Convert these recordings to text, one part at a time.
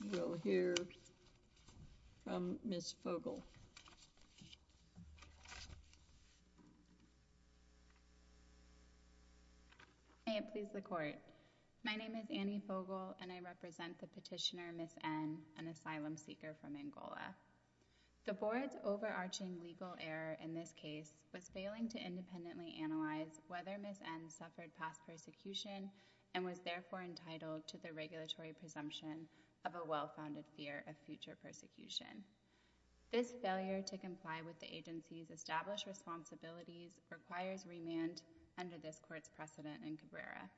We will hear from Ms. Fogel. May it please the Court. My name is Annie Fogel and I represent the petitioner Ms. N, an asylum seeker from Angola. The Board's overarching legal error in this case was failing to independently analyze whether Ms. N suffered past persecution and was therefore entitled to the regulatory presumption of a well-founded fear of future persecution. This failure to comply with the agency's established responsibilities requires remand under this Court's precedent in Cabrera.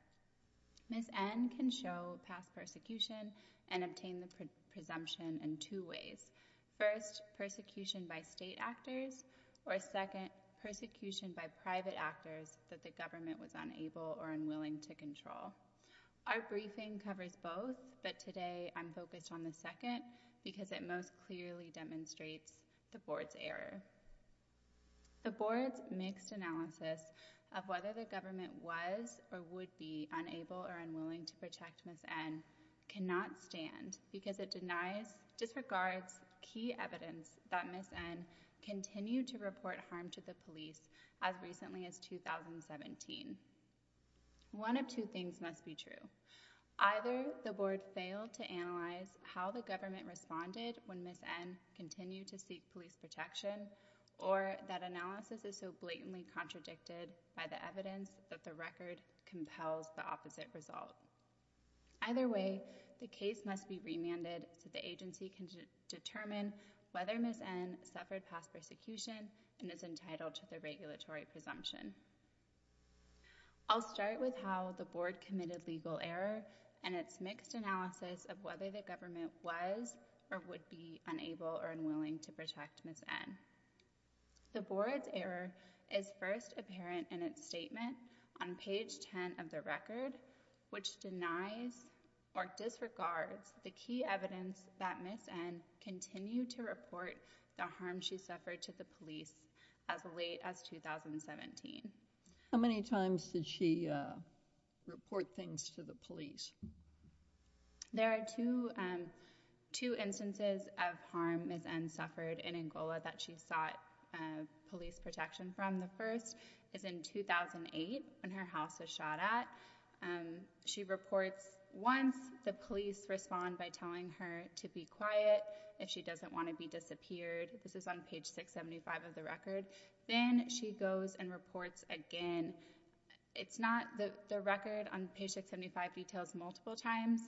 Ms. N can show past persecution and obtain the presumption in two ways. First, persecution by state actors, or second, persecution by private actors that the government was unable or unwilling to control. Our briefing covers both, but today I'm focused on the second because it most clearly demonstrates the Board's error. The Board's mixed analysis of whether the government was or would be unable or unwilling to protect Ms. N cannot stand because it denies, disregards key evidence that Ms. N continued to report harm to the police as recently as 2017. One of two things must be true. Either the Board failed to analyze how the government responded when Ms. N continued to seek police protection, or that analysis is so blatantly contradicted by the evidence that the record compels the opposite result. Either way, the case must be remanded so the agency can determine whether Ms. N suffered past persecution and is entitled to the regulatory presumption. I'll start with how the Board committed legal error in its mixed analysis of whether the government was or would be unable or unwilling to protect Ms. N. The Board's error is first apparent in its statement on page 10 of the record, which denies or disregards the key evidence that Ms. N continued to report the harm she suffered to the police as late as 2017. How many times did she report things to the police? There are two instances of harm Ms. N suffered in Angola that she sought police protection from. The first is in 2008 when her house was shot at. She reports once the police respond by telling her to be quiet if she doesn't want to be disappeared. This is on page 675 of the record. Then she goes and reports again. It's not the record on page 675 details multiple times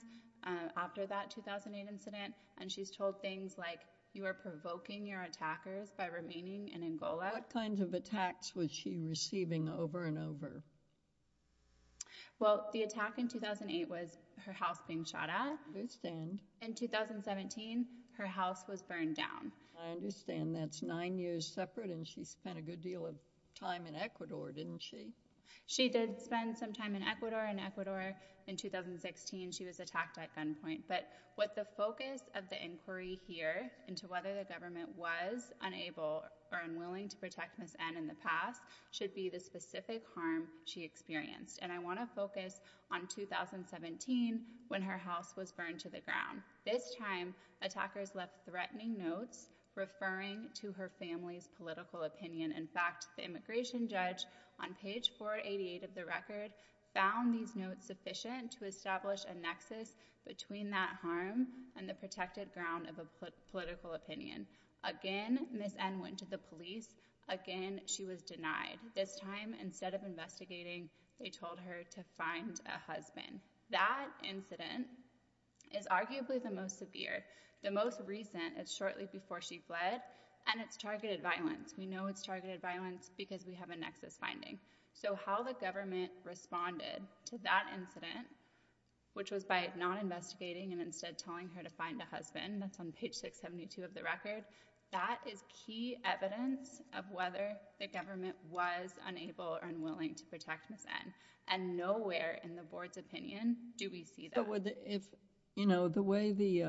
after that 2008 incident, and she's told things like you are provoking your attackers by remaining in Angola. What kinds of attacks was she receiving over and over? Well, the attack in 2008 was her house being shot at. I understand. In 2017, her house was burned down. I understand that's nine years separate, and she spent a good deal of time in Ecuador, didn't she? She did spend some time in Ecuador. In Ecuador in 2016, she was attacked at gunpoint. But what the focus of the inquiry here into whether the government was unable or unwilling to protect Ms. N in the past should be the specific harm she experienced. And I want to focus on 2017 when her house was burned to the ground. This time, attackers left threatening notes referring to her family's political opinion. In fact, the immigration judge on page 488 of the record found these notes sufficient to establish a nexus between that harm and the protected ground of a political opinion. Again, Ms. N went to the police. Again, she was denied. This time, instead of investigating, they told her to find a husband. That incident is arguably the most severe. The most recent is shortly before she fled, and it's targeted violence. We know it's targeted violence because we have a nexus finding. So how the government responded to that incident, which was by not investigating and instead telling her to find a husband, that's on page 672 of the record, that is key evidence of whether the government was unable or unwilling to protect Ms. N. And nowhere in the board's opinion do we see that. The way the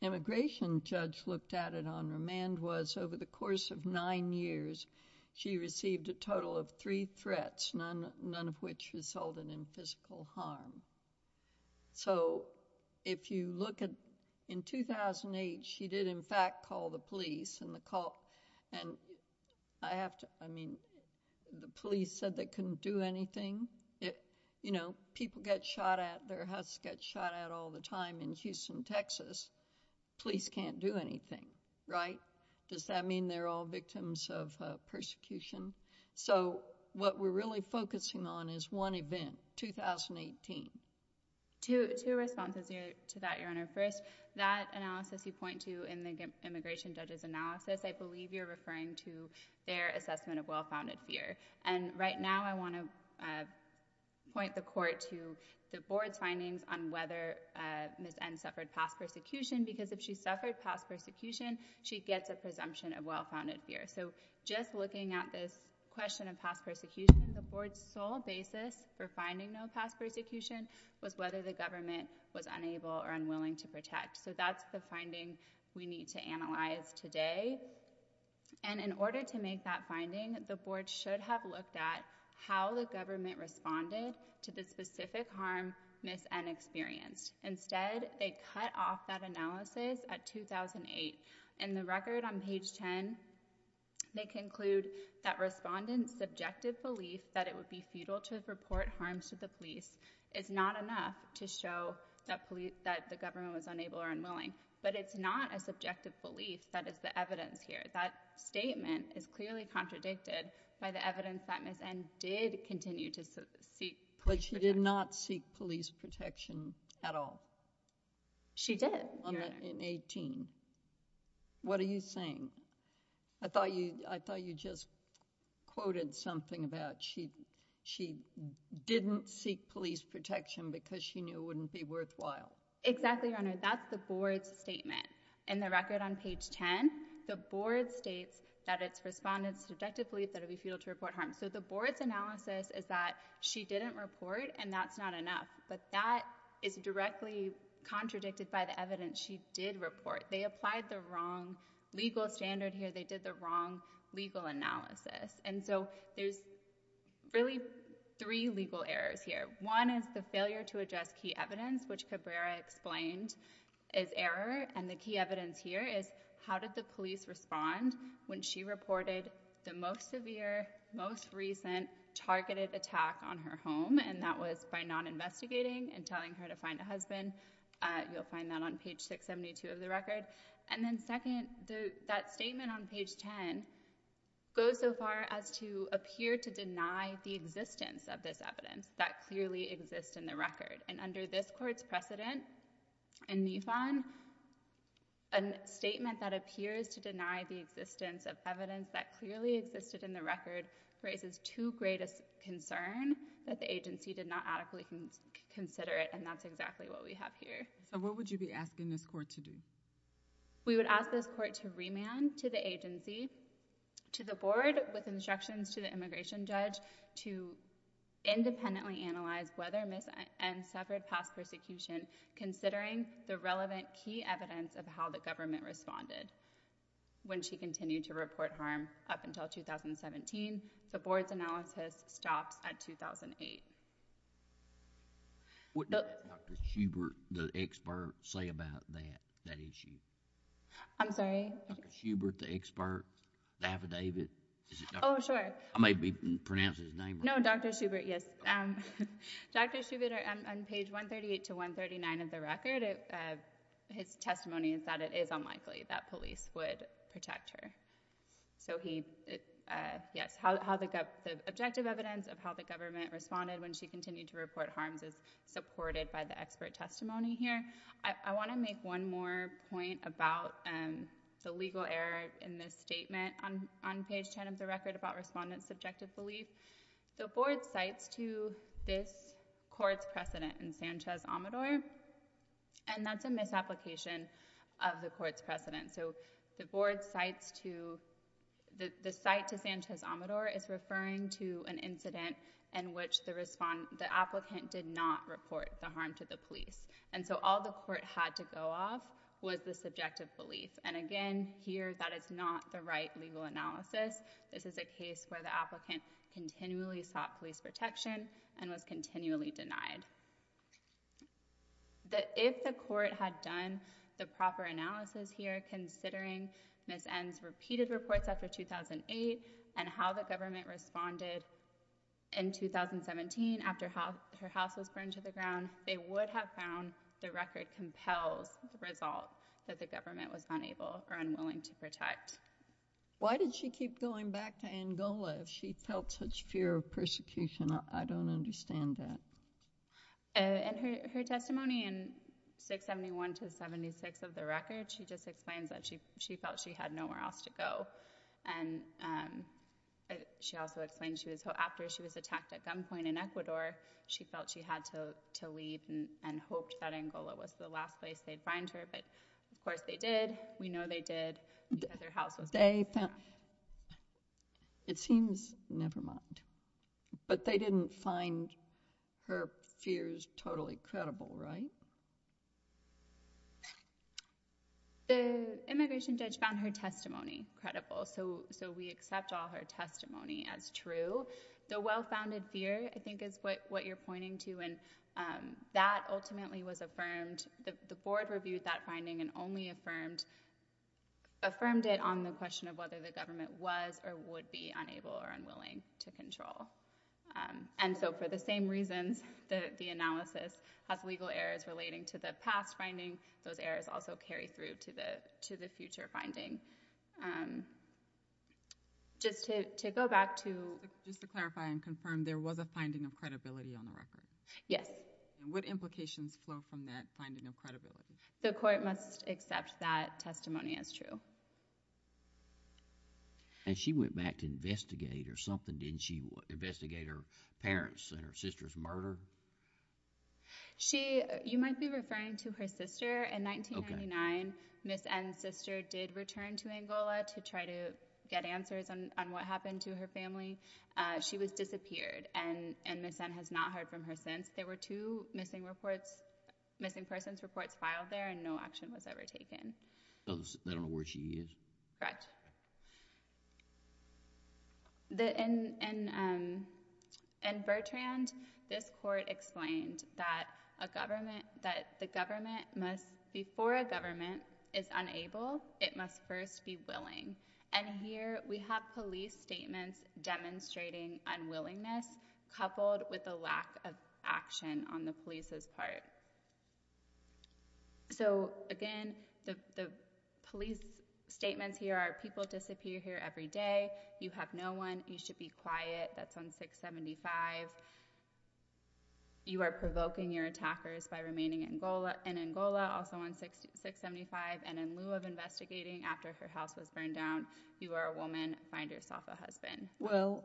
immigration judge looked at it on remand was over the course of nine years, she received a total of three threats, none of which resulted in physical harm. So if you look at in 2008, she did in fact call the police. I mean, the police said they couldn't do anything. People get shot at. Their houses get shot at all the time in Houston, Texas. Police can't do anything, right? Does that mean they're all victims of persecution? So what we're really focusing on is one event, 2018. Two responses to that, Your Honor. First, that analysis you point to in the immigration judge's analysis, I believe you're referring to their assessment of well-founded fear. And right now I want to point the court to the board's findings on whether Ms. N. suffered past persecution because if she suffered past persecution, she gets a presumption of well-founded fear. So just looking at this question of past persecution, the board's sole basis for finding no past persecution was whether the government was unable or unwilling to protect. So that's the finding we need to analyze today. And in order to make that finding, the board should have looked at how the government responded to the specific harm Ms. N. experienced. Instead, they cut off that analysis at 2008. In the record on page 10, they conclude that respondents' subjective belief that it would be futile to report harms to the police is not enough to show that the government was unable or unwilling. But it's not a subjective belief that is the evidence here. That statement is clearly contradicted by the evidence that Ms. N. did continue to seek police protection. But she did not seek police protection at all. She did, Your Honor. In 2018. What are you saying? I thought you just quoted something about she didn't seek police protection because she knew it wouldn't be worthwhile. Exactly, Your Honor. That's the board's statement. In the record on page 10, the board states that its respondents' subjective belief that it would be futile to report harms. So the board's analysis is that she didn't report, and that's not enough. But that is directly contradicted by the evidence she did report. They applied the wrong legal standard here. They did the wrong legal analysis. And so there's really three legal errors here. One is the failure to address key evidence, which Cabrera explained as error. And the key evidence here is, how did the police respond when she reported the most severe, most recent targeted attack on her home? And that was by not investigating and telling her to find a husband. You'll find that on page 672 of the record. And then second, that statement on page 10 goes so far as to appear to deny the existence of this evidence that clearly exists in the record. And under this court's precedent in NIFON, a statement that appears to deny the existence of evidence that clearly existed in the record raises too great a concern that the agency did not adequately consider it, and that's exactly what we have here. So what would you be asking this court to do? We would ask this court to remand to the agency, to the board, with instructions to the immigration judge, to independently analyze whether Ms. N suffered past persecution, considering the relevant key evidence of how the government responded when she continued to report harm up until 2017. The board's analysis stops at 2008. What does Dr. Schubert, the expert, say about that issue? I'm sorry? Dr. Schubert, the expert, the affidavit? Oh, sure. I may be pronouncing his name wrong. No, Dr. Schubert, yes. Dr. Schubert, on page 138 to 139 of the record, his testimony is that it is unlikely that police would protect her. So he... Yes, the objective evidence of how the government responded when she continued to report harms is supported by the expert testimony here. I want to make one more point about the legal error in this statement on page 10 of the record about respondents' subjective belief. The board cites to this court's precedent in Sanchez-Amedore, and that's a misapplication of the court's precedent. So the board cites to... The applicant did not report the harm to the police. And so all the court had to go off was the subjective belief. And again, here, that is not the right legal analysis. This is a case where the applicant continually sought police protection and was continually denied. If the court had done the proper analysis here, considering Ms. N's repeated reports after 2008 and how the government responded in 2017 after her house was burned to the ground, they would have found the record compels the result that the government was unable or unwilling to protect. Why did she keep going back to Angola if she felt such fear of persecution? I don't understand that. In her testimony in 671-76 of the record, she just explains that she felt she had nowhere else to go. And she also explains after she was attacked at gunpoint in Ecuador, she felt she had to leave and hoped that Angola was the last place they'd find her. But, of course, they did. We know they did. They found... It seems... Never mind. But they didn't find her fears totally credible, right? The immigration judge found her testimony credible, so we accept all her testimony as true. The well-founded fear, I think, is what you're pointing to, and that ultimately was affirmed. The board reviewed that finding and only affirmed it on the question of whether the government was or would be unable or unwilling to control. And so for the same reasons, the analysis has legal errors relating to the past finding. Those errors also carry through to the future finding. Just to go back to... Just to clarify and confirm, there was a finding of credibility on the record? Yes. And what implications flow from that finding of credibility? The court must accept that testimony as true. And she went back to investigate or something, didn't she? Investigate her parents and her sister's murder? You might be referring to her sister. In 1999, Ms N's sister did return to Angola to try to get answers on what happened to her family. She was disappeared, and Ms N has not heard from her since. There were two missing persons reports filed there and no action was ever taken. They don't know where she is? Correct. In Bertrand, this court explained that before a government is unable, it must first be willing. And here we have police statements demonstrating unwillingness coupled with a lack of action on the police's part. So, again, the police statements here are people disappear here every day, you have no one, you should be quiet. That's on 675. You are provoking your attackers by remaining in Angola, also on 675, and in lieu of investigating after her house was burned down, you are a woman, find yourself a husband. Well,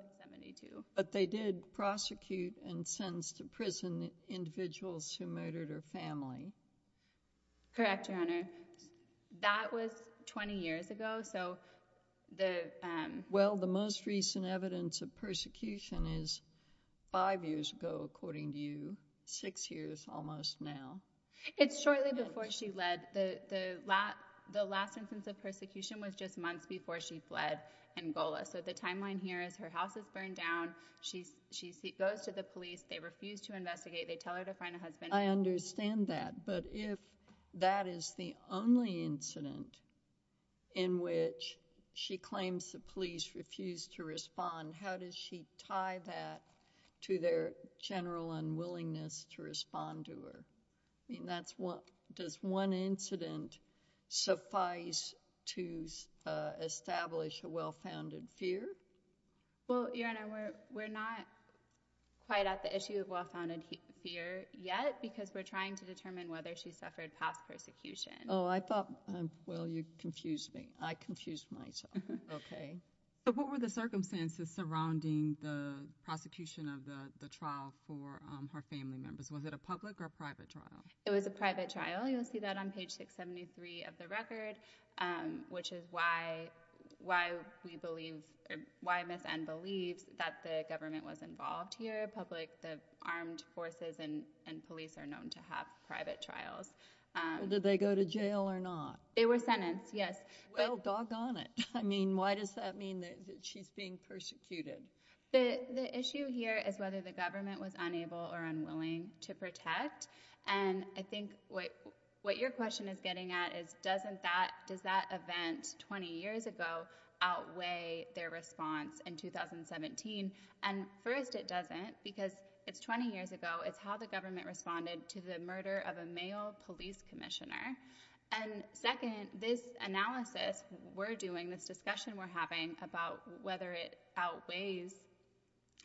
but they did prosecute and sentenced the prison individuals who murdered her family. Correct, Your Honor. That was 20 years ago, so the... Well, the most recent evidence of persecution is five years ago, according to you, six years almost now. It's shortly before she fled. The last instance of persecution was just months before she fled Angola. So the timeline here is her house is burned down, she goes to the police, they refuse to investigate, they tell her to find a husband... I understand that, but if that is the only incident in which she claims the police refused to respond, how does she tie that to their general unwillingness to respond to her? Does one incident suffice to establish a well-founded fear? Well, Your Honor, we're not quite at the issue of well-founded fear yet, because we're trying to determine whether she suffered past persecution. Oh, I thought... Well, you confused me. I confused myself. Okay. But what were the circumstances surrounding the prosecution of the trial for her family members? Was it a public or private trial? It was a private trial. You'll see that on page 673 of the record, which is why we believe, why Ms. N. believes that the government was involved here. The armed forces and police are known to have private trials. Did they go to jail or not? They were sentenced, yes. Well, doggone it. I mean, why does that mean that she's being persecuted? The issue here is whether the government was unable or unwilling to protect, and I think what your question is getting at is does that event 20 years ago outweigh their response in 2017? And first, it doesn't, because it's 20 years ago. It's how the government responded to the murder of a male police commissioner. And second, this analysis we're doing, this discussion we're having about whether it outweighs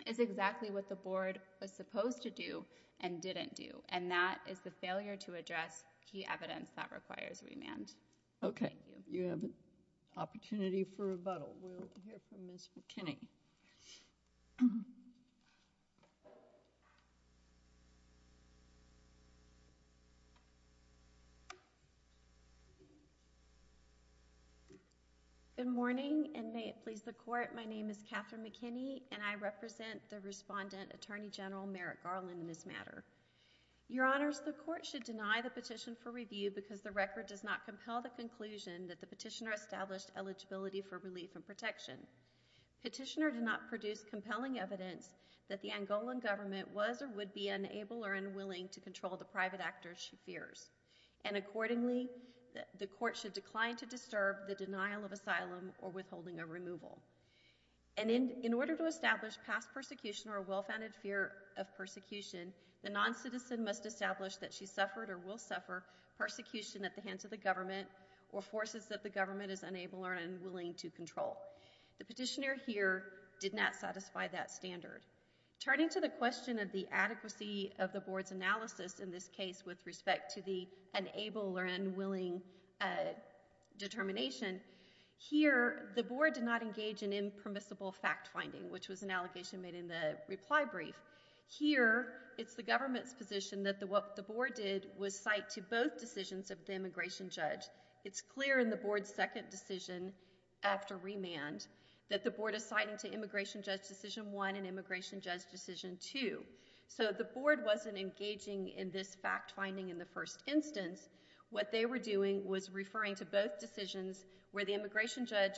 is exactly what the board was supposed to do and didn't do, and that is the failure to address key evidence that requires remand. Okay, you have an opportunity for rebuttal. We'll hear from Ms. McKinney. Good morning, and may it please the Court, my name is Catherine McKinney, and I represent the respondent, Attorney General Merrick Garland, in this matter. Your Honors, the Court should deny the petition for review because the record does not compel the conclusion that the petitioner established eligibility for relief and protection. Petitioner did not produce compelling evidence that the Angolan government was or would be unable or unwilling to control the private actors she fears. And accordingly, the Court should decline to disturb the denial of asylum or withholding of removal. And in order to establish past persecution or a well-founded fear of persecution, the noncitizen must establish that she suffered or will suffer persecution at the hands of the government or forces that the government is unable or unwilling to control. The petitioner here did not satisfy that standard. Turning to the question of the adequacy of the Board's analysis in this case with respect to the unable or unwilling determination, here, the Board did not engage in impermissible fact-finding, which was an allegation made in the reply brief. Here, it's the government's position that what the Board did was cite to both decisions of the immigration judge. It's clear in the Board's second decision after remand that the Board is citing to immigration judge decision one and immigration judge decision two. So the Board wasn't engaging in this fact-finding in the first instance. What they were doing was referring to both decisions where the immigration judge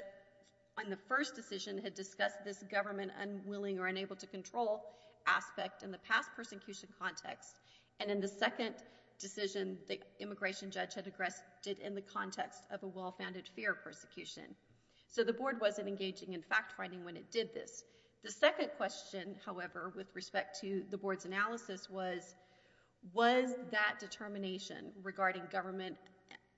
on the first decision had discussed this government unwilling or unable to control aspect in the past persecution context and in the second decision the immigration judge had addressed in the context of a well-founded fear of persecution. So the Board wasn't engaging in fact-finding when it did this. The second question, however, with respect to the Board's analysis was, was that determination regarding government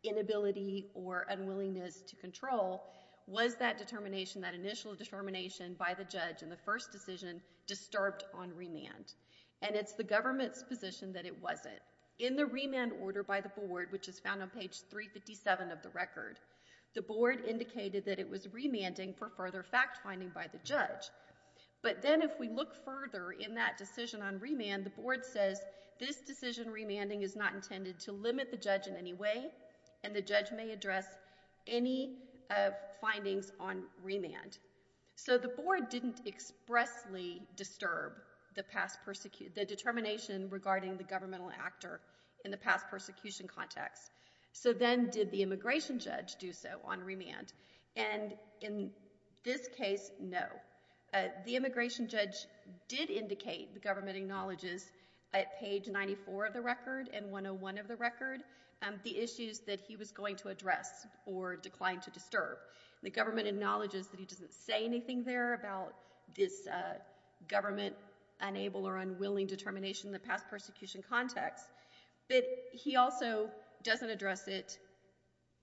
inability or unwillingness to control, was that determination, that initial determination by the judge in the first decision disturbed on remand? And it's the government's position that it wasn't. In the remand order by the Board, which is found on page 357 of the record, the Board indicated that it was remanding for further fact-finding by the judge. But then if we look further in that decision on remand, the Board says this decision remanding is not intended to limit the judge in any way and the judge may address any findings on remand. So the Board didn't expressly disturb the determination regarding the governmental actor in the past persecution context. So then did the immigration judge do so on remand? And in this case, no. The immigration judge did indicate, the government acknowledges, at page 94 of the record and 101 of the record, the issues that he was going to address or declined to disturb. The government acknowledges that he doesn't say anything there about this government-unable or unwilling determination in the past persecution context, but he also doesn't address it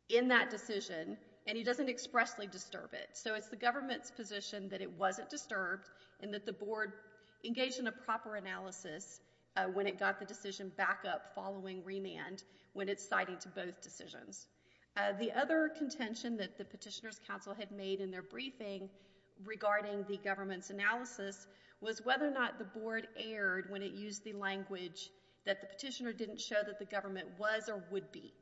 in that decision and he doesn't expressly disturb it. So it's the government's position that it wasn't disturbed and that the Board engaged in a proper analysis when it got the decision back up following remand when it's citing to both decisions. The other contention that the Petitioner's Council had made in their briefing regarding the government's analysis was whether or not the Board erred when it used the language that the petitioner didn't show that the government was or would be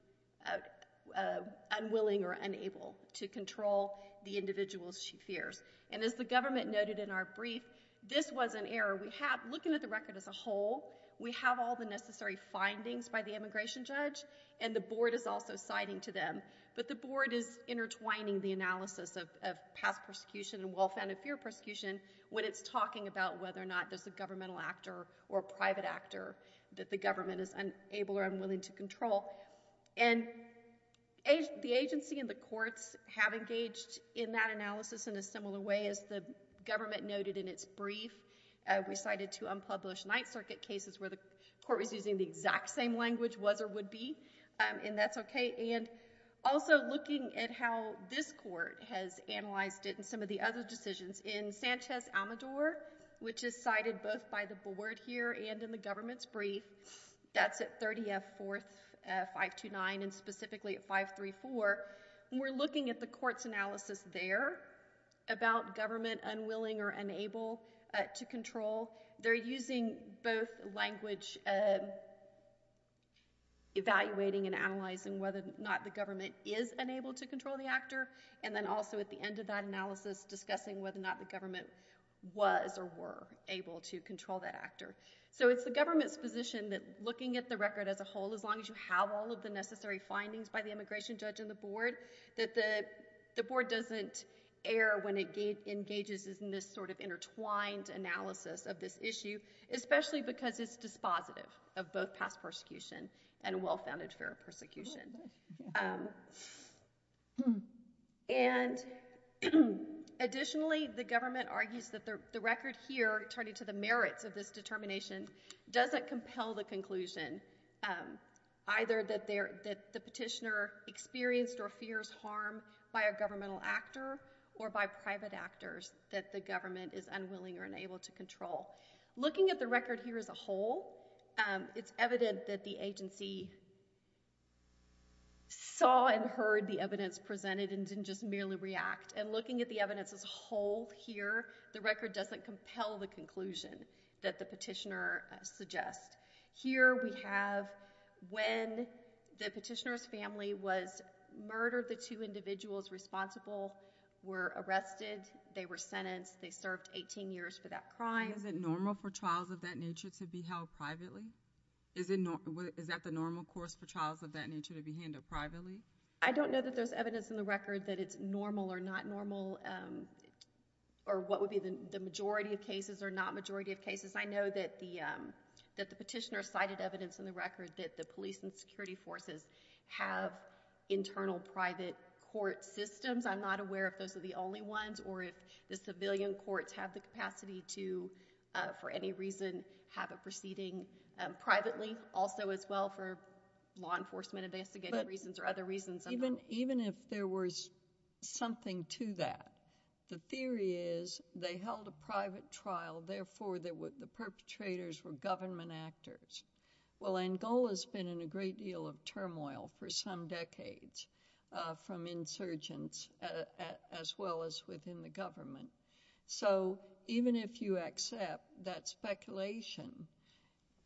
unwilling or unable to control the individuals she fears. And as the government noted in our brief, this was an error. Looking at the record as a whole, we have all the necessary findings by the immigration judge and the Board is also citing to them, but the Board is intertwining the analysis of past persecution and well-founded fear persecution when it's talking about whether or not there's a governmental actor or a private actor that the government is unable or unwilling to control. And the agency and the courts have engaged in that analysis in a similar way as the government noted in its brief. We cited two unpublished Ninth Circuit cases where the court was using the exact same language, was or would be, and that's okay. And also looking at how this court has analyzed it in some of the other decisions in Sanchez-Almedor, which is cited both by the Board here and in the government's brief, that's at 30F 4th 529 and specifically at 534, we're looking at the court's analysis there about government unwilling or unable to control. They're using both language evaluating and analyzing whether or not the government is unable to control the actor and then also at the end of that analysis discussing whether or not the government was or were able to control that actor. So it's the government's position that looking at the record as a whole, as long as you have all of the necessary findings by the immigration judge and the Board, that the Board doesn't err when it engages in this sort of intertwined analysis of this issue, especially because it's dispositive of both past persecution and well-founded fear of persecution. And additionally, the government argues that the record here, turning to the merits of this determination, doesn't compel the conclusion either that the petitioner experienced or fears harm by a governmental actor or by private actors that the government is unwilling or unable to control. Looking at the record here as a whole, it's evident that the agency saw and heard the evidence presented and didn't just merely react. And looking at the evidence as a whole here, the record doesn't compel the conclusion that the petitioner suggests. Here we have when the petitioner's family was murdered, the two individuals responsible were arrested, they were sentenced, they served 18 years for that crime. Is it normal for trials of that nature to be held privately? Is that the normal course for trials of that nature to be handled privately? I don't know that there's evidence in the record that it's normal or not normal, or what would be the majority of cases or not majority of cases. I know that the petitioner cited evidence in the record that the police and security forces have internal private court systems. I'm not aware if those are the only ones or if the civilian courts have the capacity to, for any reason, have a proceeding privately also as well for law enforcement investigating reasons or other reasons. Even if there was something to that, the theory is they held a private trial, therefore the perpetrators were government actors. Well, Angola's been in a great deal of turmoil for some decades from insurgents as well as within the government. So even if you accept that speculation,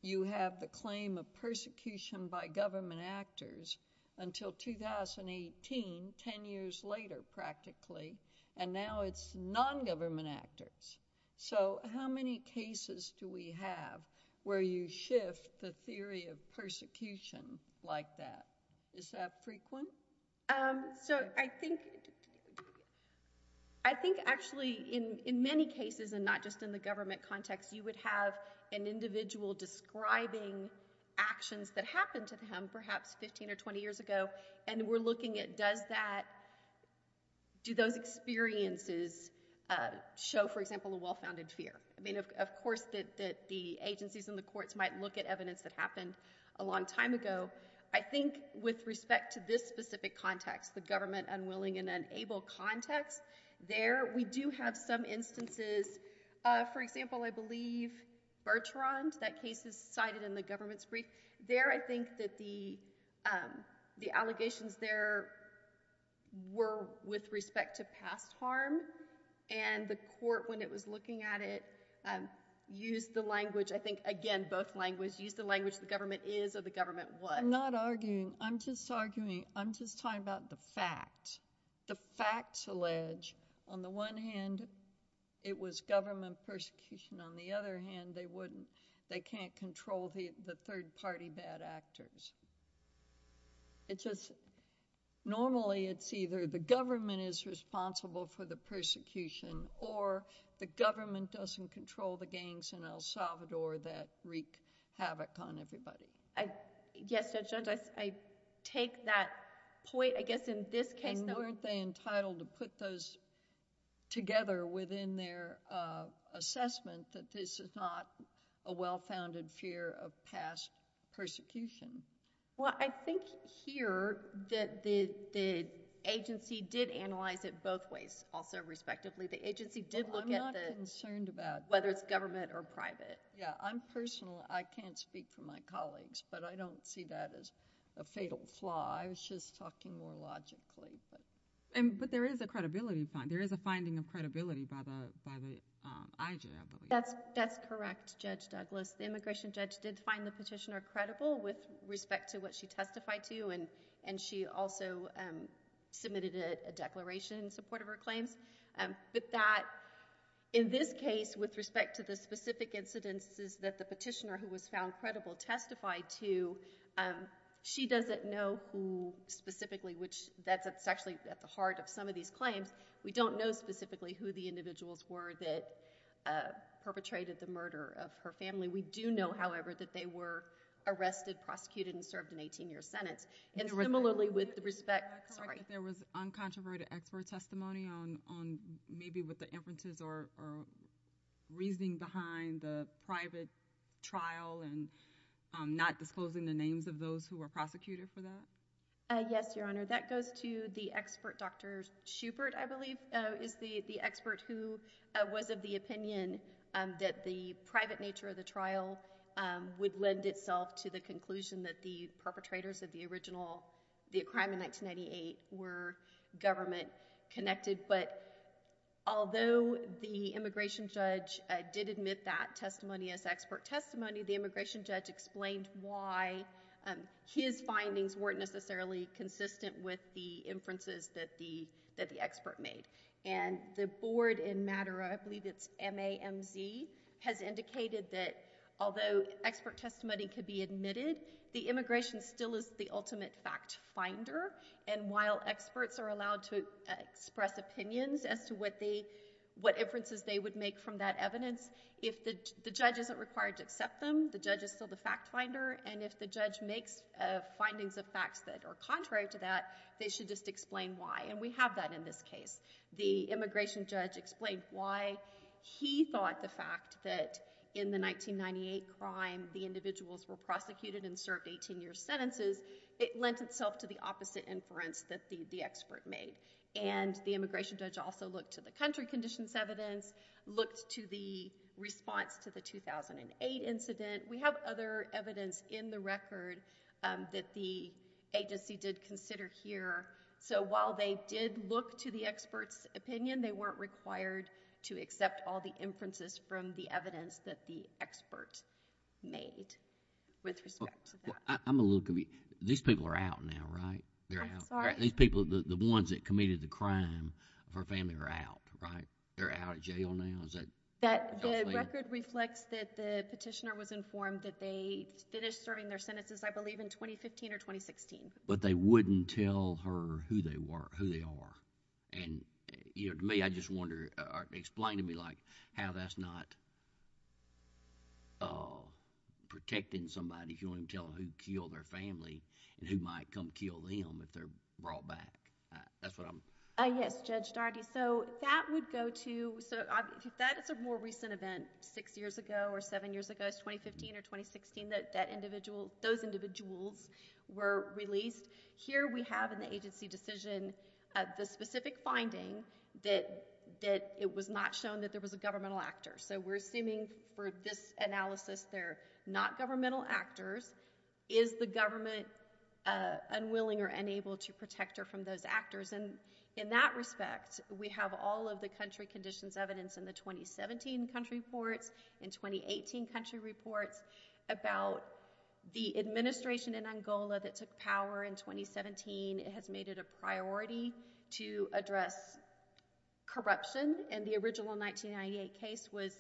you have the claim of persecution by government actors until 2018, 10 years later practically, and now it's non-government actors. So how many cases do we have where you shift the theory of persecution like that? Is that frequent? So I think... I think actually in many cases and not just in the government context, you would have an individual describing actions that happened to him perhaps 15 or 20 years ago, and we're looking at does that... Do those experiences show, for example, a well-founded fear? I mean, of course the agencies and the courts might look at evidence that happened a long time ago. I think with respect to this specific context, the government unwilling and unable context, there we do have some instances. For example, I believe Bertrand, that case is cited in the government's brief. There I think that the allegations there were with respect to past harm, and the court, when it was looking at it, used the language, I think, again, both languages, used the language the government is or the government was. I'm not arguing. I'm just arguing. I'm just talking about the facts. The facts allege, on the one hand, it was government persecution. On the other hand, they can't control the third-party bad actors. It's just normally it's either the government is responsible for the persecution or the government doesn't control the gangs in El Salvador that wreak havoc on everybody. Yes, Judge Jones, I take that point. I guess in this case... Weren't they entitled to put those together within their assessment that this is not a well-founded fear of past persecution? Well, I think here that the agency did analyze it both ways also, respectively. The agency did look at the... I'm not concerned about... I'm personally... I can't speak for my colleagues, but I don't see that as a fatal flaw. I was just talking more logically. But there is a credibility... There is a finding of credibility by the IG, I believe. That's correct, Judge Douglas. The immigration judge did find the petitioner credible with respect to what she testified to, and she also submitted a declaration in support of her claims. But that, in this case, with respect to the specific incidences that the petitioner, who was found credible, testified to, she doesn't know who specifically... That's actually at the heart of some of these claims. We don't know specifically who the individuals were that perpetrated the murder of her family. We do know, however, that they were arrested, prosecuted, and served an 18-year sentence. And similarly with respect... There was uncontroverted expert testimony on maybe what the inferences are, reasoning behind the private trial and not disclosing the names of those who were prosecuted for that. Yes, Your Honor. That goes to the expert, Dr. Schubert, I believe, is the expert who was of the opinion that the private nature of the trial would lend itself to the conclusion that the perpetrators of the original crime in 1998 were government-connected. But although the immigration judge did admit that testimony as expert testimony, the immigration judge explained why his findings weren't necessarily consistent with the inferences that the expert made. And the board in Madera, I believe it's MAMZ, has indicated that although expert testimony could be admitted, the immigration still is the ultimate fact finder. And while experts are allowed to express opinions as to what inferences they would make from that evidence, if the judge isn't required to accept them, the judge is still the fact finder. And if the judge makes findings of facts that are contrary to that, they should just explain why. And we have that in this case. The immigration judge explained why he thought the fact that in the 1998 crime the individuals were prosecuted and served 18-year sentences, it lent itself to the opposite inference that the expert made. And the immigration judge also looked to the country conditions evidence, looked to the response to the 2008 incident. We have other evidence in the record that the agency did consider here. So while they did look to the expert's opinion, they weren't required to accept all the inferences from the evidence that the expert made with respect to that. I'm a little confused. These people are out now, right? I'm sorry. These people, the ones that committed the crime of her family are out, right? They're out of jail now? The record reflects that the petitioner was informed that they finished serving their sentences, I believe, in 2015 or 2016. But they wouldn't tell her who they are. And to me, I just wonder, explain to me how that's not protecting somebody if you don't even tell them who killed their family and who might come kill them if they're brought back. That's what I'm... Yes, Judge Daugherty. So that would go to... So that is a more recent event, six years ago or seven years ago. It's 2015 or 2016 that those individuals were released. Here we have in the agency decision the specific finding that it was not shown that there was a governmental actor. So we're assuming for this analysis they're not governmental actors. Is the government unwilling or unable to protect her from those actors? And in that respect, we have all of the country conditions evidence in the 2017 country reports, in 2018 country reports, about the administration in Angola that took power in 2017. It has made it a priority to address corruption. And the original 1998 case was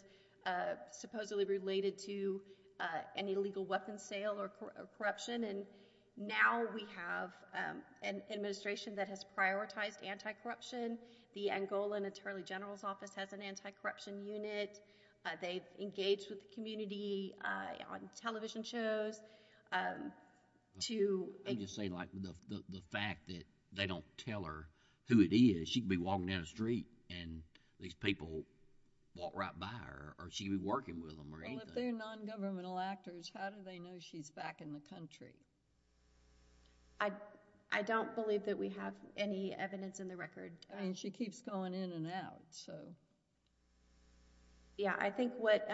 supposedly related to an illegal weapons sale or corruption. And now we have an administration that has prioritized anti-corruption. The Angolan Attorney General's Office has an anti-corruption unit. They've engaged with the community on television shows to... I'm just saying, like, the fact that they don't tell her who it is, she could be walking down the street and these people walk right by her, or she could be working with them or anything. Well, if they're non-governmental actors, how do they know she's back in the country? I don't believe that we have any evidence in the record. I mean, she keeps going in and out, so... Yeah, I think what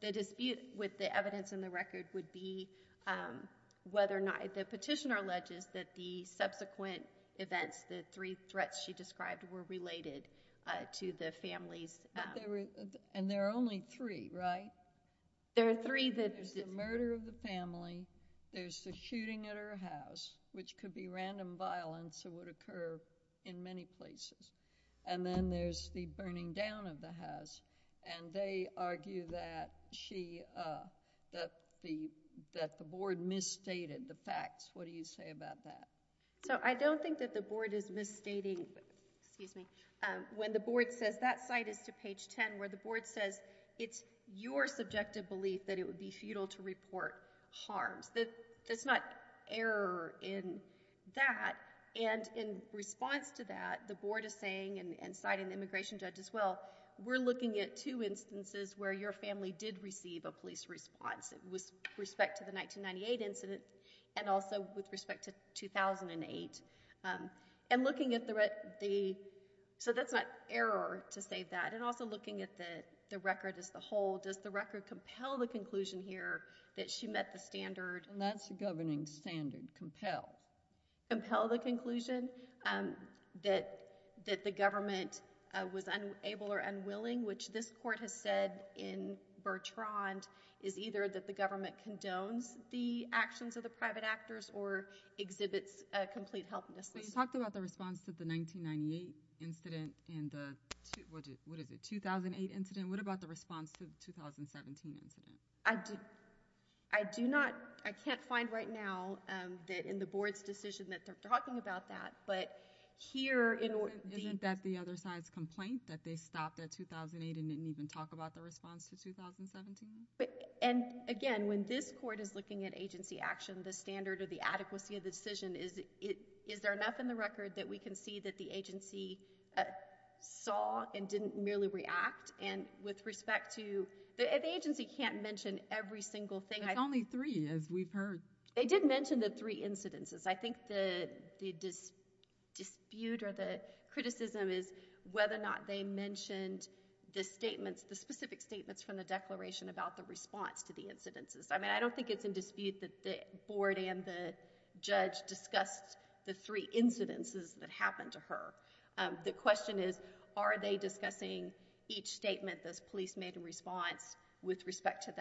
the dispute with the evidence in the record would be whether or not... The petitioner alleges that the subsequent events, the three threats she described, were related to the family's... And there are only three, right? There are three that... There's the murder of the family. There's the shooting at her house, which could be random violence that would occur in many places. And then there's the burning down of the house. And they argue that she... that the board misstated the facts. What do you say about that? So, I don't think that the board is misstating... Excuse me. When the board says, that site is to page 10, where the board says, it's your subjective belief that it would be futile to report harms. There's not error in that. And in response to that, the board is saying, and citing the immigration judge as well, we're looking at two instances where your family did receive a police response with respect to the 1998 incident and also with respect to 2008. And looking at the... So, that's not error to say that. And also looking at the record as the whole, does the record compel the conclusion here that she met the standard... And that's the governing standard, compel.... compel the conclusion that the government was unable or unwilling, which this court has said in Bertrand, is either that the government condones the actions of the private actors or exhibits complete helplessness. But you talked about the response to the 1998 incident and the... what is it, 2008 incident? What about the response to the 2017 incident? I do not... I can't find right now that in the board's decision that they're talking about that. But here... Isn't that the other side's complaint that they stopped at 2008 and didn't even talk about the response to 2017? And, again, when this court is looking at agency action, the standard or the adequacy of the decision is... Is there enough in the record that we can see that the agency saw and didn't merely react? And with respect to... The agency can't mention every single thing. There's only three, as we've heard. They did mention the three incidences. I think the dispute or the criticism is whether or not they mentioned the statements, the specific statements from the declaration about the response to the incidences. I mean, I don't think it's in dispute that the board and the judge discussed the three incidences that happened to her. The question is, are they discussing each statement this police made in response with respect to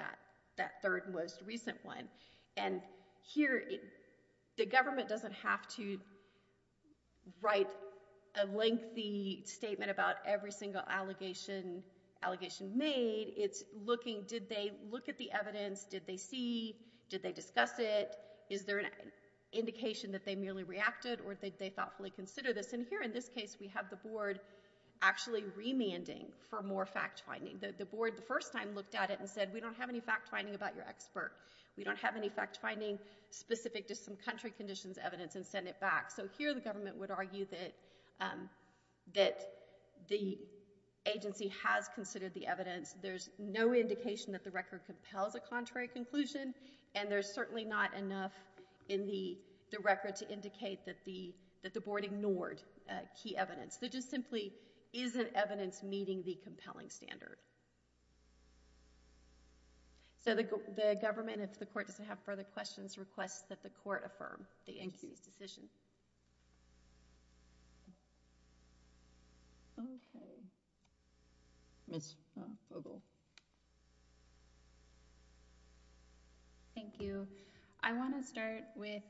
that third most recent one? And here, the government doesn't have to write a lengthy statement about every single allegation, allegation made. It's looking, did they look at the evidence? Did they see? Did they discuss it? Is there an indication that they merely reacted or did they thoughtfully consider this? And here, in this case, we have the board actually remanding for more fact-finding. The board, the first time, looked at it and said, we don't have any fact-finding about your expert. We don't have any fact-finding specific to some country conditions evidence and send it back. So here, the government would argue that the agency has considered the evidence. There's no indication that the record compels a contrary conclusion, and there's certainly not enough in the record to indicate that the board ignored key evidence. There just simply isn't evidence meeting the compelling standard. So the government, if the court doesn't have further questions, requests that the court affirm the agency's decision. Okay. Ms. Vogel. Thank you. I want to start with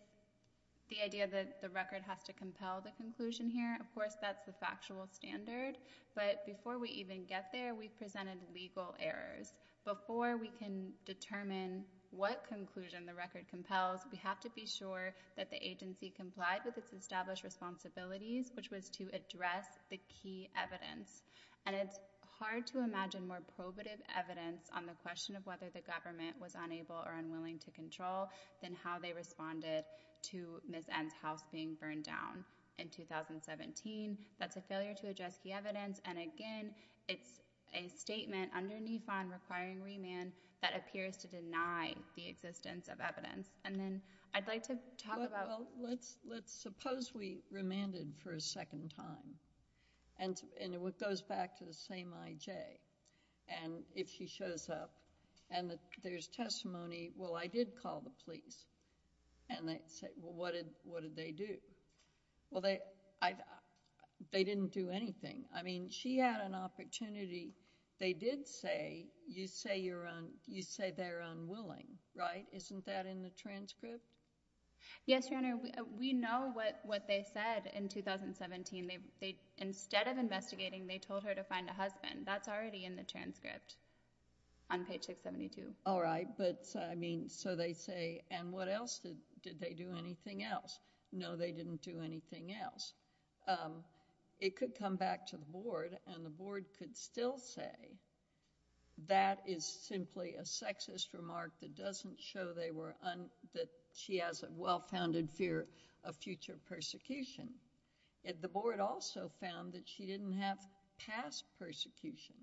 the idea that the record has to compel the conclusion here. Of course, that's the factual standard, but before we even get there, we've presented legal errors. Before we can determine what conclusion the record compels, we have to be sure that the agency complied with its established responsibilities, which was to address the key evidence. And it's hard to imagine more probative evidence on the question of whether the government was unable or unwilling to control than how they responded to Ms. N's house being burned down in 2017. That's a failure to address key evidence, and again, it's a statement underneath on requiring remand that appears to deny the existence of evidence. And then I'd like to talk about... Well, let's suppose we remanded for a second time, and it goes back to the same I.J. And if she shows up and there's testimony, well, I did call the police, and they say, well, what did they do? Well, they didn't do anything. I mean, she had an opportunity. They did say, you say they're unwilling, right? Isn't that in the transcript? Yes, Your Honor. We know what they said in 2017. Instead of investigating, they told her to find a husband. That's already in the transcript on page 672. All right, but, I mean, so they say, and what else did they do, anything else? No, they didn't do anything else. It could come back to the Board, and the Board could still say that is simply a sexist remark that doesn't show that she has a well-founded fear of future persecution. Yet the Board also found that she didn't have past persecution.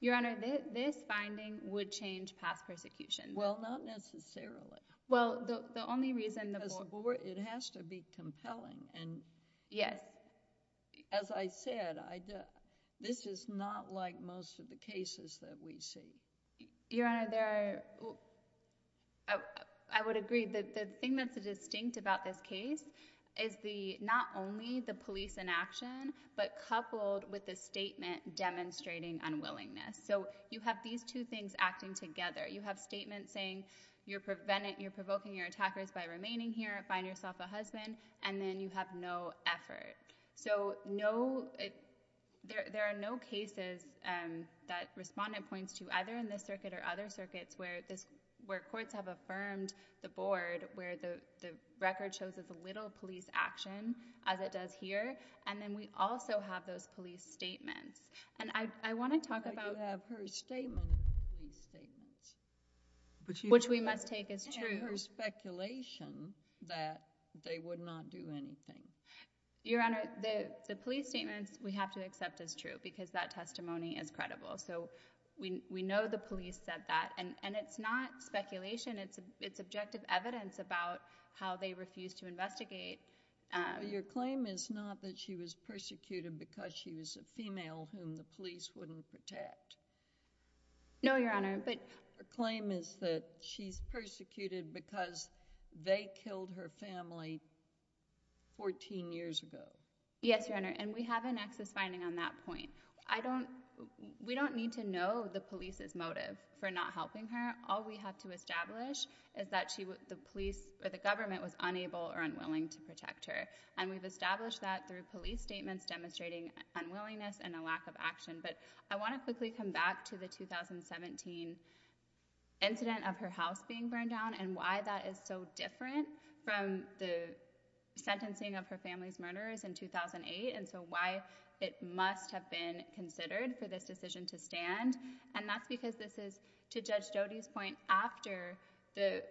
Your Honor, this finding would change past persecution. Well, not necessarily. Well, the only reason the Board... Because the Board, it has to be compelling, and... Yes. As I said, this is not like most of the cases that we see. Your Honor, there are... I would agree. The thing that's distinct about this case is not only the police inaction, but coupled with the statement demonstrating unwillingness. So you have these two things acting together. You have statements saying you're provoking your attackers by remaining here, find yourself a husband, and then you have no effort. So no... There are no cases that Respondent points to, either in this circuit or other circuits, where courts have affirmed the Board where the record shows as little police action as it does here, and then we also have those police statements. And I want to talk about... But you have her statement in the police statements. Which we must take as true. And her speculation that they would not do anything. Your Honor, the police statements we have to accept as true because that testimony is credible. So we know the police said that. And it's not speculation. It's objective evidence about how they refused to investigate. Your claim is not that she was persecuted because she was a female whom the police wouldn't protect. No, Your Honor, but... Her claim is that she's persecuted because they killed her family 14 years ago. Yes, Your Honor, and we have an excess finding on that point. I don't... We don't need to know the police's motive for not helping her. All we have to establish is that the police, or the government, was unable or unwilling to protect her. And we've established that through police statements demonstrating unwillingness and a lack of action. But I want to quickly come back to the 2017 incident of her house being burned down and why that is so different from the sentencing of her family's murderers in 2008 and so why it must have been considered for this decision to stand. And that's because this is, to Judge Jodi's point, after the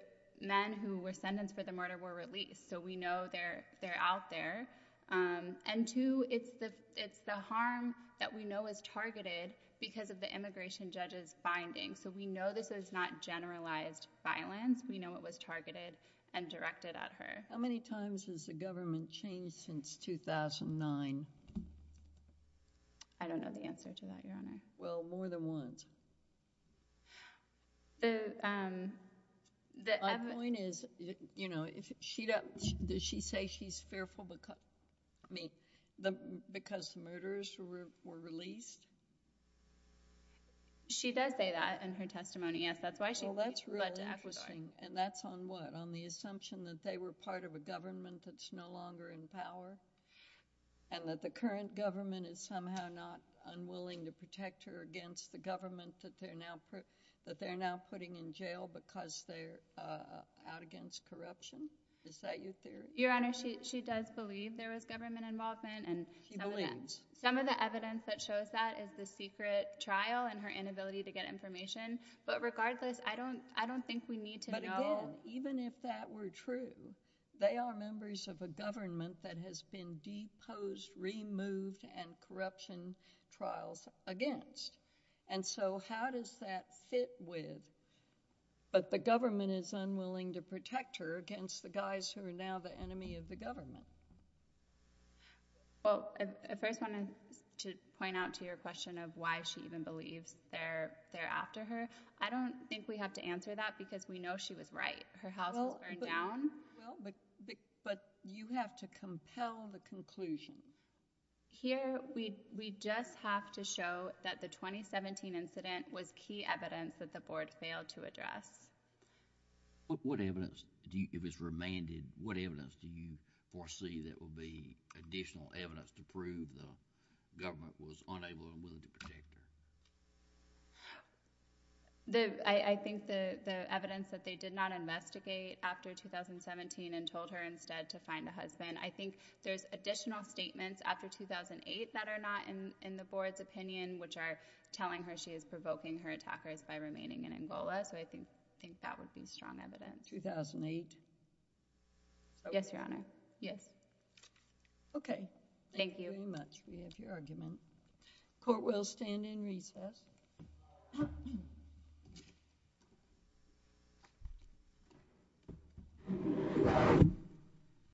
men who were sentenced for the murder were released. So we know they're out there. And two, it's the harm that we know is targeted because of the immigration judge's findings. So we know this is not generalized violence. We know it was targeted and directed at her. How many times has the government changed since 2009? I don't know the answer to that, Your Honor. Well, more than once. My point is, does she say she's fearful because the murderers were released? She does say that in her testimony, yes. That's why she led to Ecuador. Well, that's really interesting. And that's on what? On the assumption that they were part of a government that's no longer in power and that the current government is somehow not unwilling to protect her against the government that they're now putting in jail because they're out against corruption? Is that your theory? Your Honor, she does believe there was government involvement. She believes. Some of the evidence that shows that is the secret trial and her inability to get information. But regardless, I don't think we need to know. But again, even if that were true, they are members of a government that has been deposed, removed, and corruption trials against. And so how does that fit with, but the government is unwilling to protect her against the guys who are now the enemy of the government? Well, I first wanted to point out to your question of why she even believes they're after her. I don't think we have to answer that because we know she was right. Her house was burned down. But you have to compel the conclusion. Here, we just have to show that the 2017 incident was key evidence that the Board failed to address. What evidence, if it's remanded, what evidence do you foresee that would be additional evidence to prove the government was unable and unwilling to protect her? I think the evidence that they did not investigate after 2017 and told her instead to find a husband. I think there's additional statements after 2008 that are not in the Board's opinion, which are telling her she is provoking her attackers by remaining in Angola. So I think that would be strong evidence. 2008? Yes, Your Honor. Yes. OK. Thank you. Thank you very much. We have your argument. Court will stand in recess.